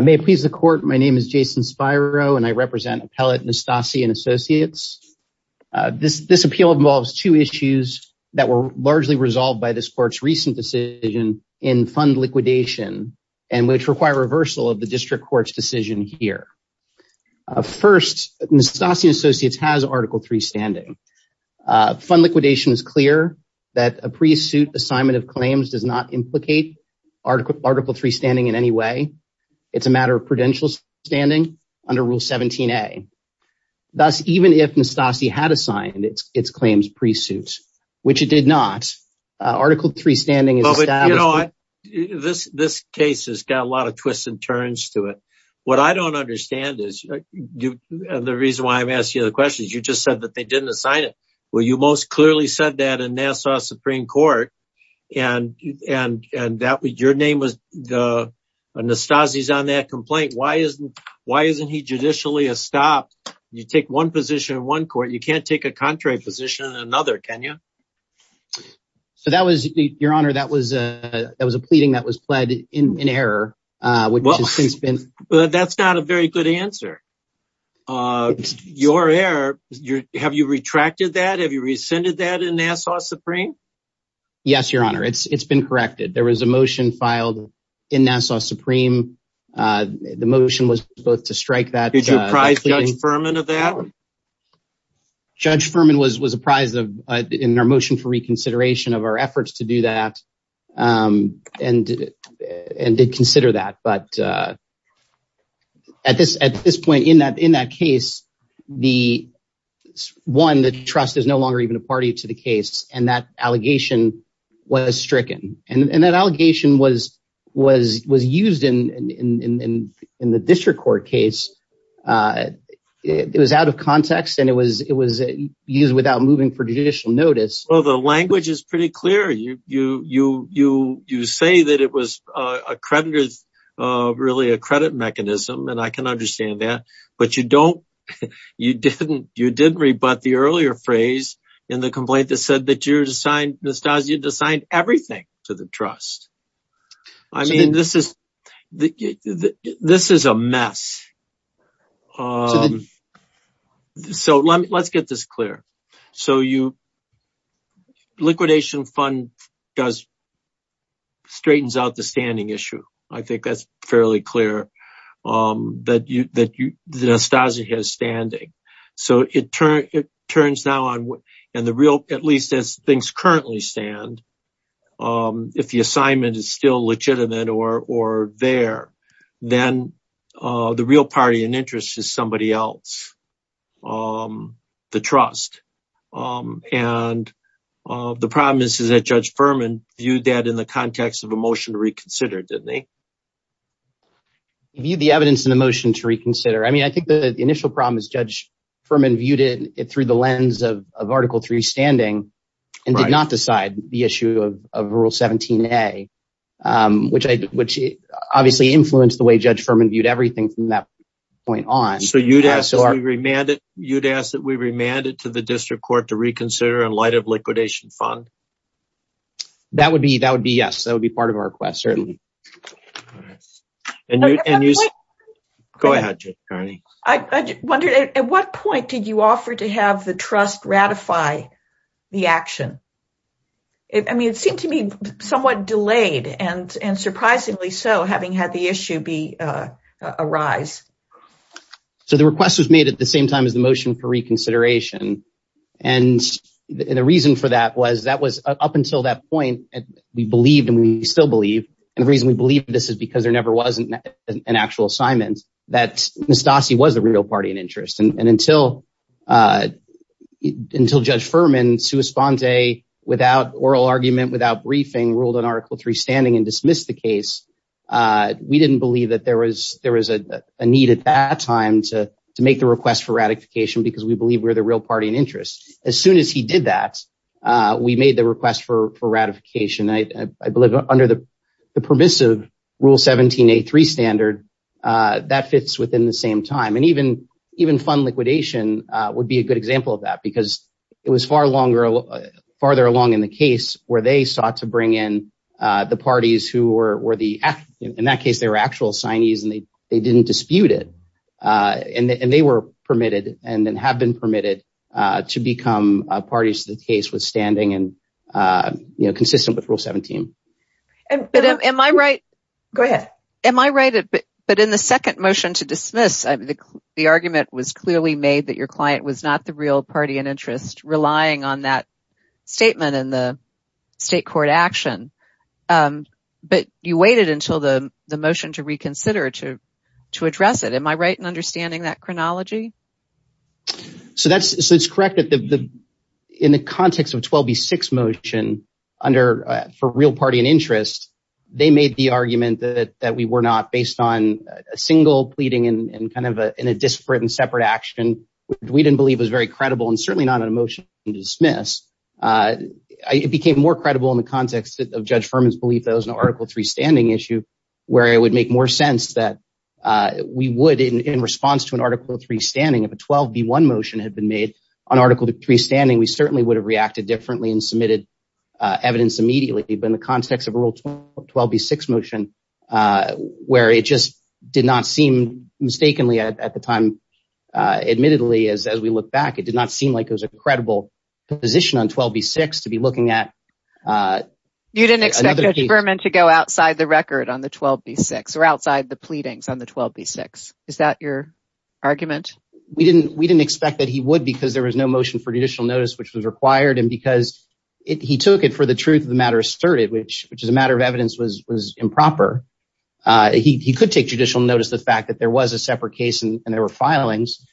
May it please the Court, my name is Jason Spiro and I represent Appellate Nastasi & Associates. This appeal involves two issues that were largely resolved by this Court's recent decision in fund liquidation and which require reversal of the District Court's decision here. First, Nastasi & Associates has Article III standing. Fund liquidation is clear that a pre-suit assignment of claims does not implicate Article III standing in any way. It's a matter of prudential standing under Rule 17a. Thus, even if Nastasi had assigned its claims pre-suit, which it did not, Article III standing This case has got a lot of twists and turns to it. What I don't understand is, and the reason why I'm asking you the question, is you just said that they didn't assign it. Well, you most clearly said that in Nassau Supreme Court and your name was Nastasi's on that complaint. Why isn't he judicially estopped? You take one position in one court, you can't take a contrary position in another, can you? Your Honor, that was a pleading that was pled in error. That's not a very good answer. Your error, have you retracted that? Have you rescinded that in Nassau Supreme? Yes, Your Honor. It's been corrected. There was a motion filed in Nassau Supreme. The motion was both to strike that. Did you prize Judge Furman of that? Judge Furman was prized in our motion for reconsideration of our efforts to do that and did consider that, but at this point in that case, one, the trust is no longer even a party to the case and that allegation was stricken. That allegation was used in the district court case. It was out of context and it was used without moving for judicial notice. The language is pretty clear. You say that it was really a credit mechanism and I can understand that, but you didn't rebut the earlier phrase in the complaint that said that Nastasi had assigned everything to the trust. I mean, this is a mess. So let's get this clear. Liquidation fund straightens out the standing issue. I think that's fairly clear that Nastasi has standing. So it turns now on and the real, at least as things currently stand, if the assignment is still legitimate or there, then the real party in interest is somebody else. The trust and the problem is that Judge Furman viewed that in the context of a motion to reconsider, didn't he? He viewed the evidence in the motion to reconsider. I mean, I think the initial problem is Judge Furman viewed it through the lens of Article 3 standing and did not decide the issue of Rule 17A, which obviously influenced the way Judge Furman viewed everything from that point on. So you'd ask that we remand it to the district court to reconsider in light of liquidation fund? That would be yes. That would be part of our request, certainly. Go ahead, Judge Kearney. I wondered, at what point did you offer to have the trust ratify the action? I mean, it seemed to me somewhat delayed and surprisingly so, having had the issue arise. So the request was made at the same time as the motion for reconsideration. And the reason for that was that was up until that point, we believed and we still believe. And the reason we believe this is because there never was an actual assignment that Mastassi was the real party in interest. And until Judge Furman, sua sponte, without oral argument, without briefing, ruled on Article 3 standing and dismissed the case, we didn't believe that there was a need at that time to make the request for ratification because we believe we're the real party in interest. As soon as he did that, we made the request for ratification. And I believe under the permissive Rule 1783 standard, that fits within the same time. And even fund liquidation would be a good example of that because it was far longer, farther along in the case where they sought to bring in the parties who were the, in that case, they were actual signees and they didn't dispute it. And they were permitted and then have been permitted to become parties to the case withstanding and consistent with Rule 17. But am I right? Go ahead. Am I right? But in the second motion to dismiss, the argument was clearly made that your client was not the real party in interest, relying on that statement in the state court action. But you waited until the motion to reconsider to to address it. Am I right in understanding that chronology? So that's so it's correct that the in the context of 12B6 motion under for real party in interest, they made the argument that that we were not based on a single pleading and kind of in a disparate and separate action, which we didn't believe was very credible and certainly not an emotion to dismiss. It became more credible in the context of Judge Furman's belief that was an Article 3 standing issue where it would make more sense that we would in response to an Article 3 standing, if a 12B1 motion had been made on Article 3 standing, we certainly would have reacted differently and submitted evidence immediately. But in the context of Rule 12B6 motion, where it just did not seem mistakenly at the time, admittedly, as as we look back, it did not seem like it was a credible position on 12B6 to be looking at. You didn't expect Judge Furman to go outside the record on the 12B6 or outside the pleadings on the 12B6. Is that your argument? We didn't we didn't expect that he would because there was no motion for judicial notice, which was required and because he took it for the truth of the matter asserted, which is a matter of evidence was improper. He could take judicial notice, the fact that there was a separate case and there were filings.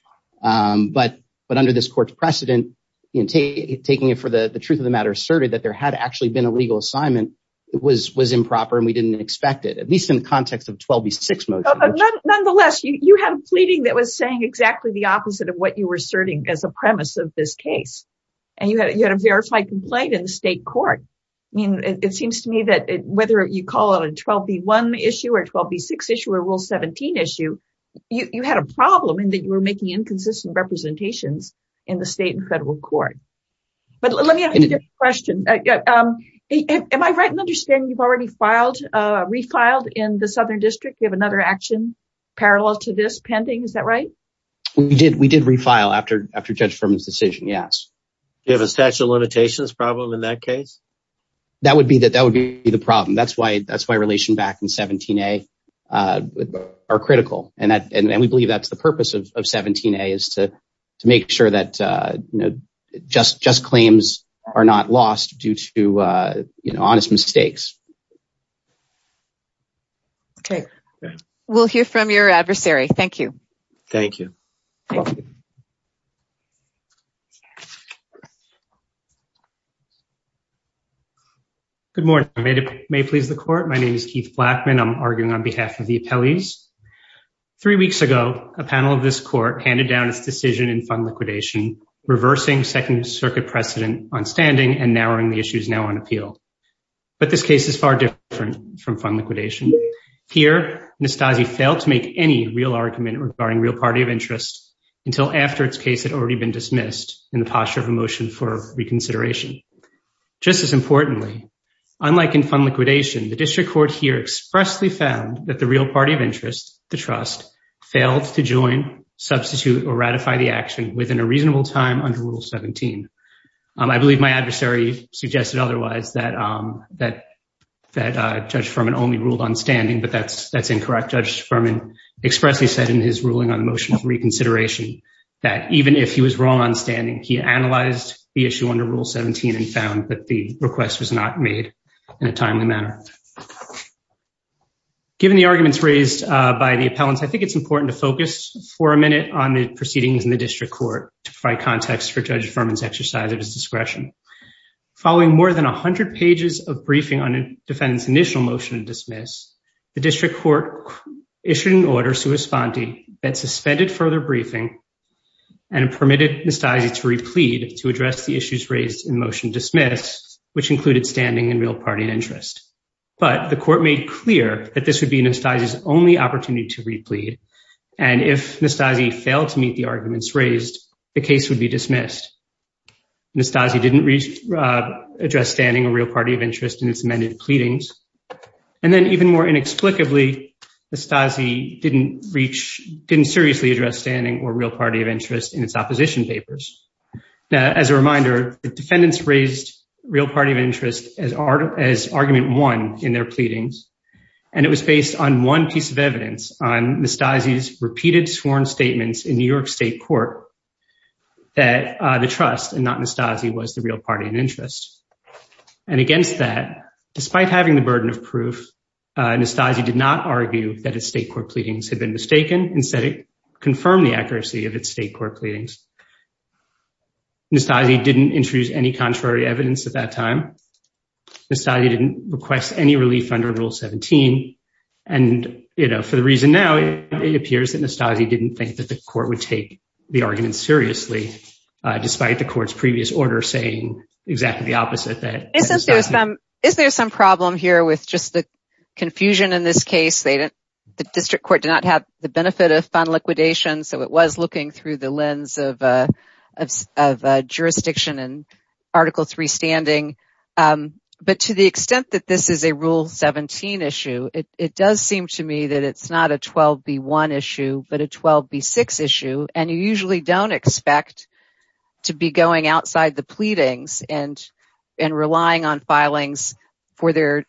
But but under this court's precedent, taking it for the truth of the matter asserted that there had actually been a legal assignment, it was improper and we didn't expect it, at least in the context of 12B6 motion. Nonetheless, you had a pleading that was saying exactly the opposite of what you were asserting as a premise of this case. And you had you had a verified complaint in the state court. I mean, it seems to me that whether you call it a 12B1 issue or 12B6 issue or Rule 17 issue, you had a problem in that you were making inconsistent representations in the state and federal court. But let me ask you a question. Am I right in understanding you've already filed, refiled in the Southern District? You have another action parallel to this pending. Is that right? We did. We did refile after after Judge Furman's decision. Yes. You have a statute of limitations problem in that case. That would be that that would be the problem. That's why that's why relation back in 17A are critical. And that and we believe that's the purpose of 17A is to to make sure that just just claims are not lost due to honest mistakes. OK, we'll hear from your adversary. Thank you. Thank you. Good morning. May it please the court. My name is Keith Blackman. I'm arguing on behalf of the appellees. Three weeks ago, a panel of this court handed down its decision in fund liquidation, reversing Second Circuit precedent on standing and narrowing the issues now on appeal. But this case is far different from fund liquidation. Here, Anastasi failed to make any real argument regarding real party of interest until after its case had already been dismissed in the posture of a motion for reconsideration. Just as importantly, unlike in fund liquidation, the district court here expressly found that the real party of interest, the trust, failed to join, substitute or ratify the action within a reasonable time under Rule 17. I believe my adversary suggested otherwise that that that Judge Furman only ruled on standing. But that's that's incorrect. Judge Furman expressly said in his ruling on the motion of reconsideration that even if he was wrong on standing, he analyzed the issue under Rule 17 and found that the request was not made in a timely manner. Given the arguments raised by the appellants, I think it's important to focus for a minute on the proceedings in the district court to provide context for Judge Furman's exercise of his discretion. Following more than 100 pages of briefing on a defendant's initial motion to dismiss, the district court issued an order sui sponte that suspended further briefing and permitted Anastasi to replead to address the issues raised in motion dismissed, which included standing and real party of interest. But the court made clear that this would be Anastasi's only opportunity to replead. And if Anastasi failed to meet the arguments raised, the case would be dismissed. Anastasi didn't address standing or real party of interest in its amended pleadings. And then even more inexplicably, Anastasi didn't reach didn't seriously address standing or real party of interest in its opposition papers. As a reminder, the defendants raised real party of interest as argument one in their pleadings. And it was based on one piece of evidence on Anastasi's repeated sworn statements in New York state court that the trust and not Anastasi was the real party of interest. And against that, despite having the burden of proof, Anastasi did not argue that his state court pleadings had been mistaken. Instead, it confirmed the accuracy of its state court pleadings. Anastasi didn't introduce any contrary evidence at that time. Anastasi didn't request any relief under Rule 17. And, you know, for the reason now, it appears that Anastasi didn't think that the court would take the argument seriously, despite the court's previous order saying exactly the opposite that. Isn't there some, is there some problem here with just the confusion in this case? They didn't, the district court did not have the benefit of fund liquidation. So it was looking through the lens of jurisdiction and Article 3 standing. But to the extent that this is a Rule 17 issue, it does seem to me that it's not a 12B1 issue, but a 12B6 issue. And you usually don't expect to be going outside the pleadings and relying on filings for their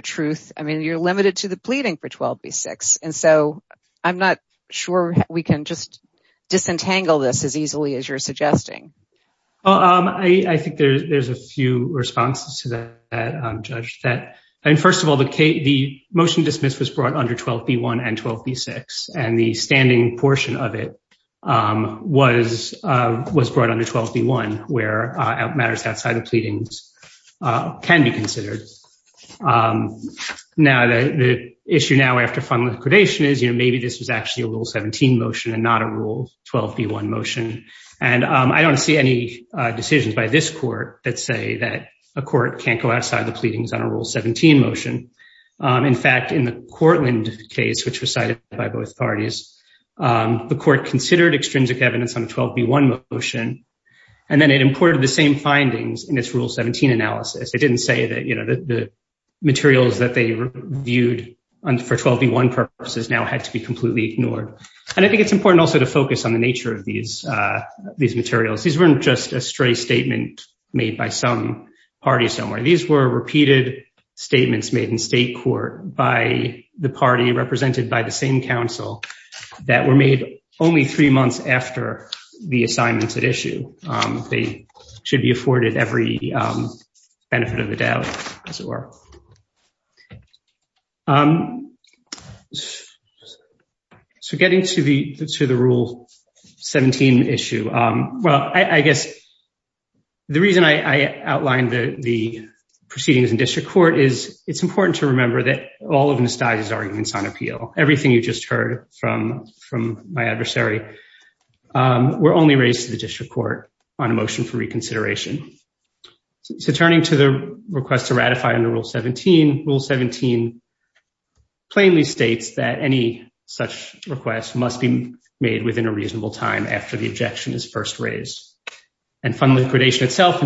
truth. I mean, you're limited to the pleading for 12B6. And so I'm not sure we can just disentangle this as easily as you're suggesting. I think there's a few responses to that, Judge, that, I mean, first of all, the motion dismissed was brought under 12B1 and 12B6. And the standing portion of it was brought under 12B1, where matters outside the pleadings can be considered. Now, the issue now after fund liquidation is, you know, maybe this was actually a Rule 17 motion and not a Rule 12B1 motion. And I don't see any decisions by this court that say that a court can't go outside the pleadings on a Rule 17 motion. In fact, in the Courtland case, which was cited by both parties, the court considered extrinsic evidence on a 12B1 motion. And then it imported the same findings in its Rule 17 analysis. It didn't say that, you know, the materials that they reviewed for 12B1 purposes now had to be completely ignored. And I think it's important also to focus on the nature of these materials. These weren't just a stray statement made by some party somewhere. These were repeated statements made in state court by the party represented by the same council that were made only three months after the assignments at issue. They should be afforded every benefit of the doubt, as it were. So getting to the to the Rule 17 issue. Well, I guess the reason I outlined the proceedings in district court is it's important to remember that all of Anastasia's arguments on appeal, everything you just heard from my adversary, were only raised to the district court on a motion for reconsideration. So turning to the request to ratify under Rule 17, Rule 17 plainly states that any such request must be made within a reasonable time after the objection is first raised. And fund liquidation itself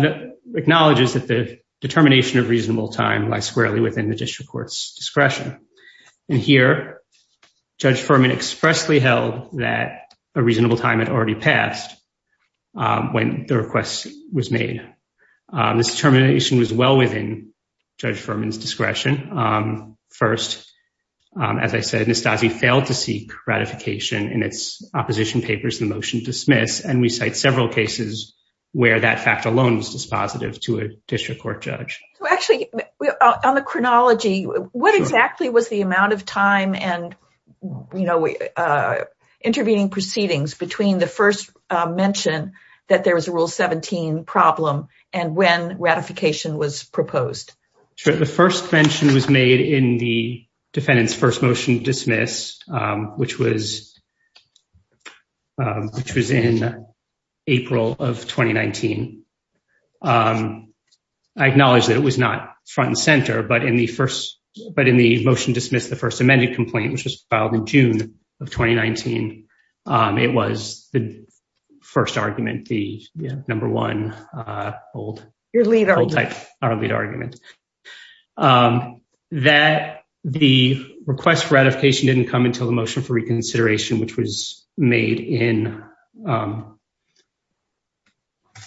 acknowledges that the determination of reasonable time lies squarely within the district court's discretion. And here, Judge Furman expressly held that a reasonable time had already passed when the request was made. This determination was well within Judge Furman's discretion. First, as I said, Anastasia failed to seek ratification in its opposition papers, the motion dismissed. And we cite several cases where that fact alone was dispositive to a district court judge. Actually, on the chronology, what exactly was the amount of time and, you know, intervening proceedings between the first mention that there was a Rule 17 problem and when ratification was proposed? The first mention was made in the defendant's first motion dismiss, which was in April of 2019. I acknowledge that it was not front and center, but in the first, but in the motion dismissed, the first amended complaint, which was filed in June of 2019, it was the first argument, the number one, old type argument. That the request for ratification didn't come until the motion for reconsideration, which was made in,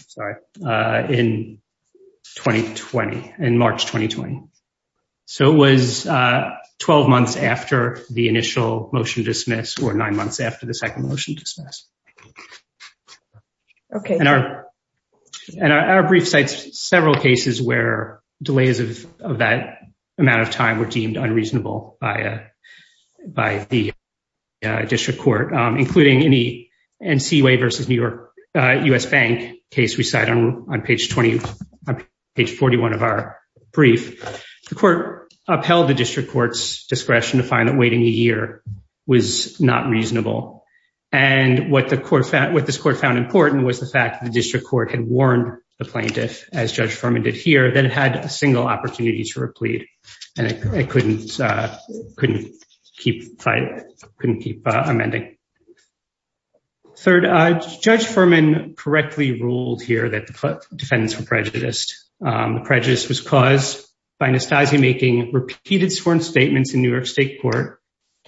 sorry, in 2020, in March 2020. So it was 12 months after the initial motion dismiss or nine months after the second motion dismiss. And our brief cites several cases where delays of that amount of time were deemed unreasonable by the district court, including any NCUA versus New York US Bank case we cite on page 20, page 41 of our brief. The court upheld the district court's discretion to find that waiting a year was not reasonable. And what the court found, what this court found important was the fact that the district court had warned the plaintiff, as Judge Fuhrman did here, that it had a single opportunity to replead and it couldn't, couldn't keep, couldn't keep amending. Third, Judge Fuhrman correctly ruled here that the defendants were prejudiced. The prejudice was caused by Nastassi making repeated sworn statements in New York state court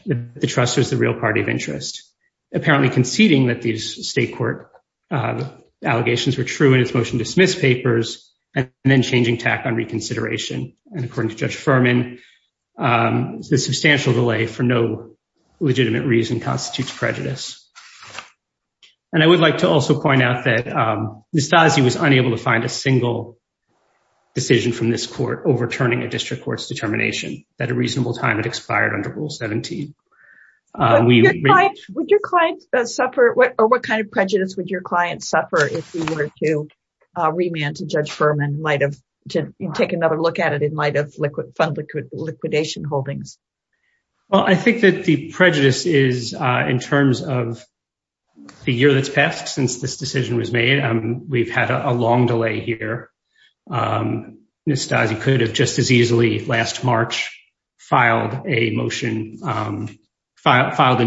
that the trust was the real party of interest. Apparently conceding that these state court allegations were true in its motion dismiss papers and then changing tack on reconsideration. And according to Judge Fuhrman, the substantial delay for no legitimate reason constitutes prejudice. And I would like to also point out that Nastassi was unable to find a single decision from this court overturning a district court's determination that a reasonable time had expired under Rule 17. Would your client suffer, or what kind of prejudice would your client suffer if you were to remand to Judge Fuhrman, might have to take another look at it, it might have liquid liquidation holdings. Well, I think that the prejudice is in terms of the year that's passed since this decision was made. We've had a long delay here. Nastassi could have just as easily last March filed a motion, filed a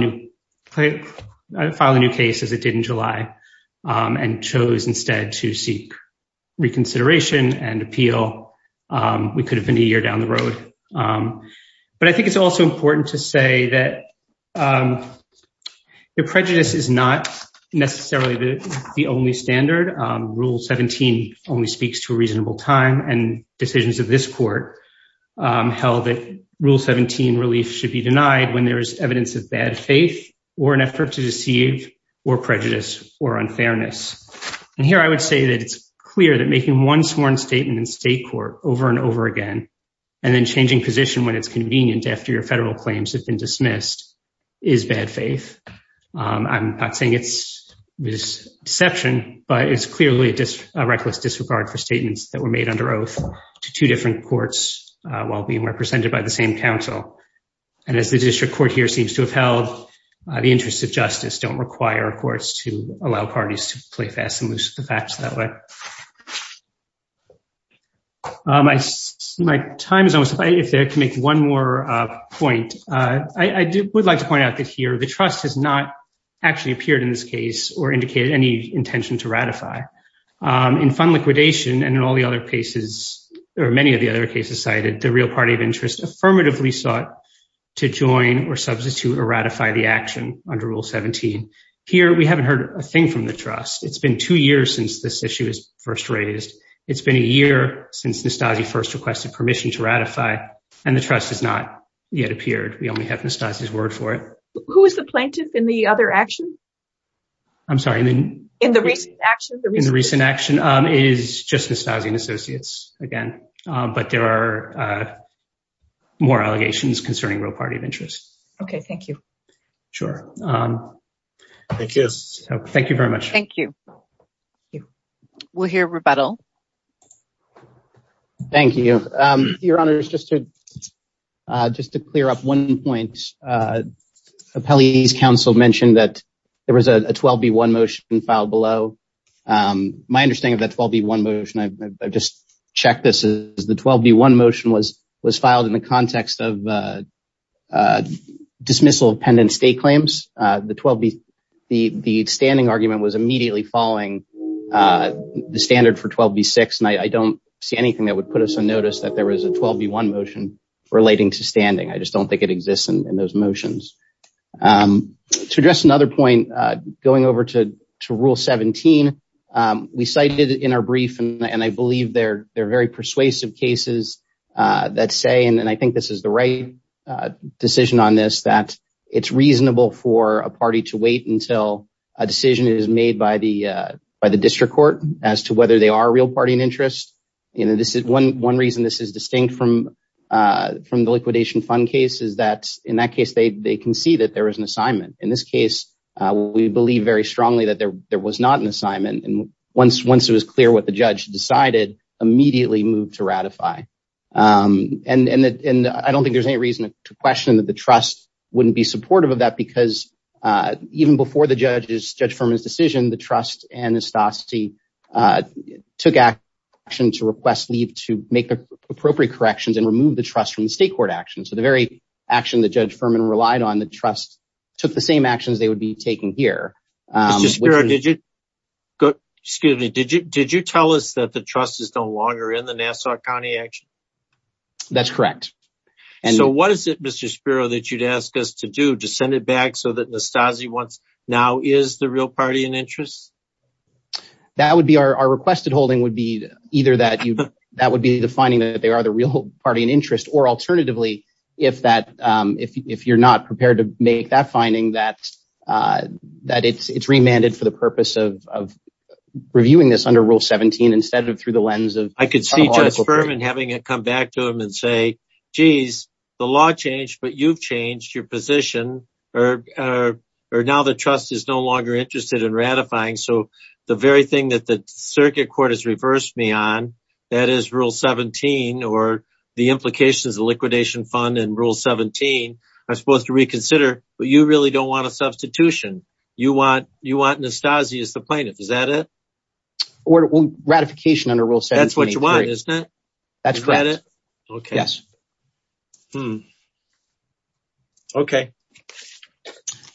new case as it did in July and chose instead to seek reconsideration and appeal. We could have been a year down the road. But I think it's also important to say that the prejudice is not necessarily the only standard. Rule 17 only speaks to a reasonable time and decisions of this court held that Rule 17 relief should be denied when there is evidence of bad faith or an effort to deceive or prejudice or unfairness. And here I would say that it's clear that making one sworn statement in state court over and over again, and then changing position when it's convenient after your federal claims have been dismissed is bad faith. I'm not saying it's deception, but it's clearly a reckless disregard for statements that were made under oath to two different courts while being represented by the same counsel. And as the district court here seems to have held, the interests of justice don't require courts to allow parties to play fast and loose with the facts that way. My time is almost up. If I could make one more point, I would like to point out that here the trust has not actually appeared in this case or indicated any intention to ratify. In fund liquidation and in all the other cases, or many of the other cases cited, the real party of interest affirmatively sought to join or substitute or ratify the action under Rule 17. Here, we haven't heard a thing from the trust. It's been two years since this issue was first raised. It's been a year since Nastassi first requested permission to ratify, and the trust has not yet appeared. We only have Nastassi's word for it. Who was the plaintiff in the other action? I'm sorry? In the recent action? In the recent action, it is just Nastassi and Associates again, but there are more allegations concerning real party of interest. Okay, thank you. Sure. Thank you. Thank you very much. Thank you. We'll hear rebuttal. Thank you. Your Honor, just to clear up one point, Appellee's counsel mentioned that there was a 12B1 motion filed below. My understanding of that 12B1 motion, I've just checked this, is the 12B1 motion was filed in the context of dismissal of pendent state claims. The standing argument was immediately following the standard for 12B6, and I don't see anything that would put us on notice that there was a 12B1 motion relating to standing. I just don't think it exists in those motions. To address another point, going over to Rule 17, we cited in our brief, and I believe they're very persuasive cases that say, and I think this is the right decision on this, that it's reasonable for a party to wait until a decision is made by the district court as to whether they are a real party of interest. One reason this is distinct from the liquidation fund case is that in that case, they can see that there is an assignment. In this case, we believe very strongly that there was not an assignment, and once it was clear what the judge decided, immediately moved to ratify. I don't think there's any reason to question that the trust wouldn't be supportive of that, because even before the judge's decision, the trust took action to request leave to make the appropriate corrections and remove the trust from the state court action. So the very action that Judge Furman relied on, the trust took the same actions they would be taking here. Mr. Spiro, did you tell us that the trust is no longer in the Nassau County action? That's correct. So what is it, Mr. Spiro, that you'd ask us to do, to send it back so that Nestase now is the real party in interest? That would be our requested holding, would be either that would be the finding that they are the real party in interest, or alternatively, if you're not prepared to make that finding, that it's remanded for the purpose of reviewing this under Rule 17 instead of through the lens of... I could see Judge Furman having it come back to him and say, geez, the law changed, but you've changed your position, or now the trust is no longer interested in ratifying. So the very thing that the circuit court has reversed me on, that is Rule 17, or the implications of liquidation fund and Rule 17, I'm supposed to reconsider, but you really don't want a substitution. You want Nestase as the plaintiff. Is that it? Or ratification under Rule 17. That's what you want, isn't it? That's correct. Is that it? Yes. Hmm. Okay.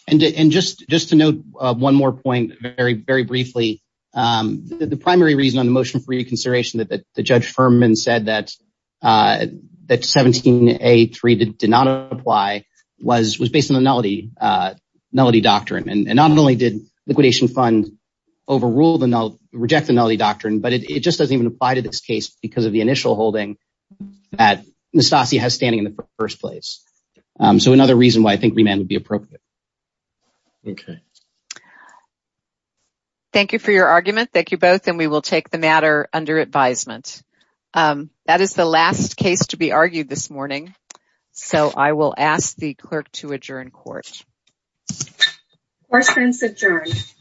And just to note one more point very, very briefly, the primary reason on the motion for reconsideration that Judge Furman said that 17A3 did not apply was based on the nullity doctrine. And not only did liquidation fund overrule the nullity, reject the nullity doctrine, but it just doesn't even apply to this case because of the initial holding that Nestase has standing in the first place. So another reason why I think remand would be appropriate. Okay. Thank you for your argument. Thank you both, and we will take the matter under advisement. That is the last case to be argued this morning, so I will ask the clerk to adjourn court. Court is adjourned.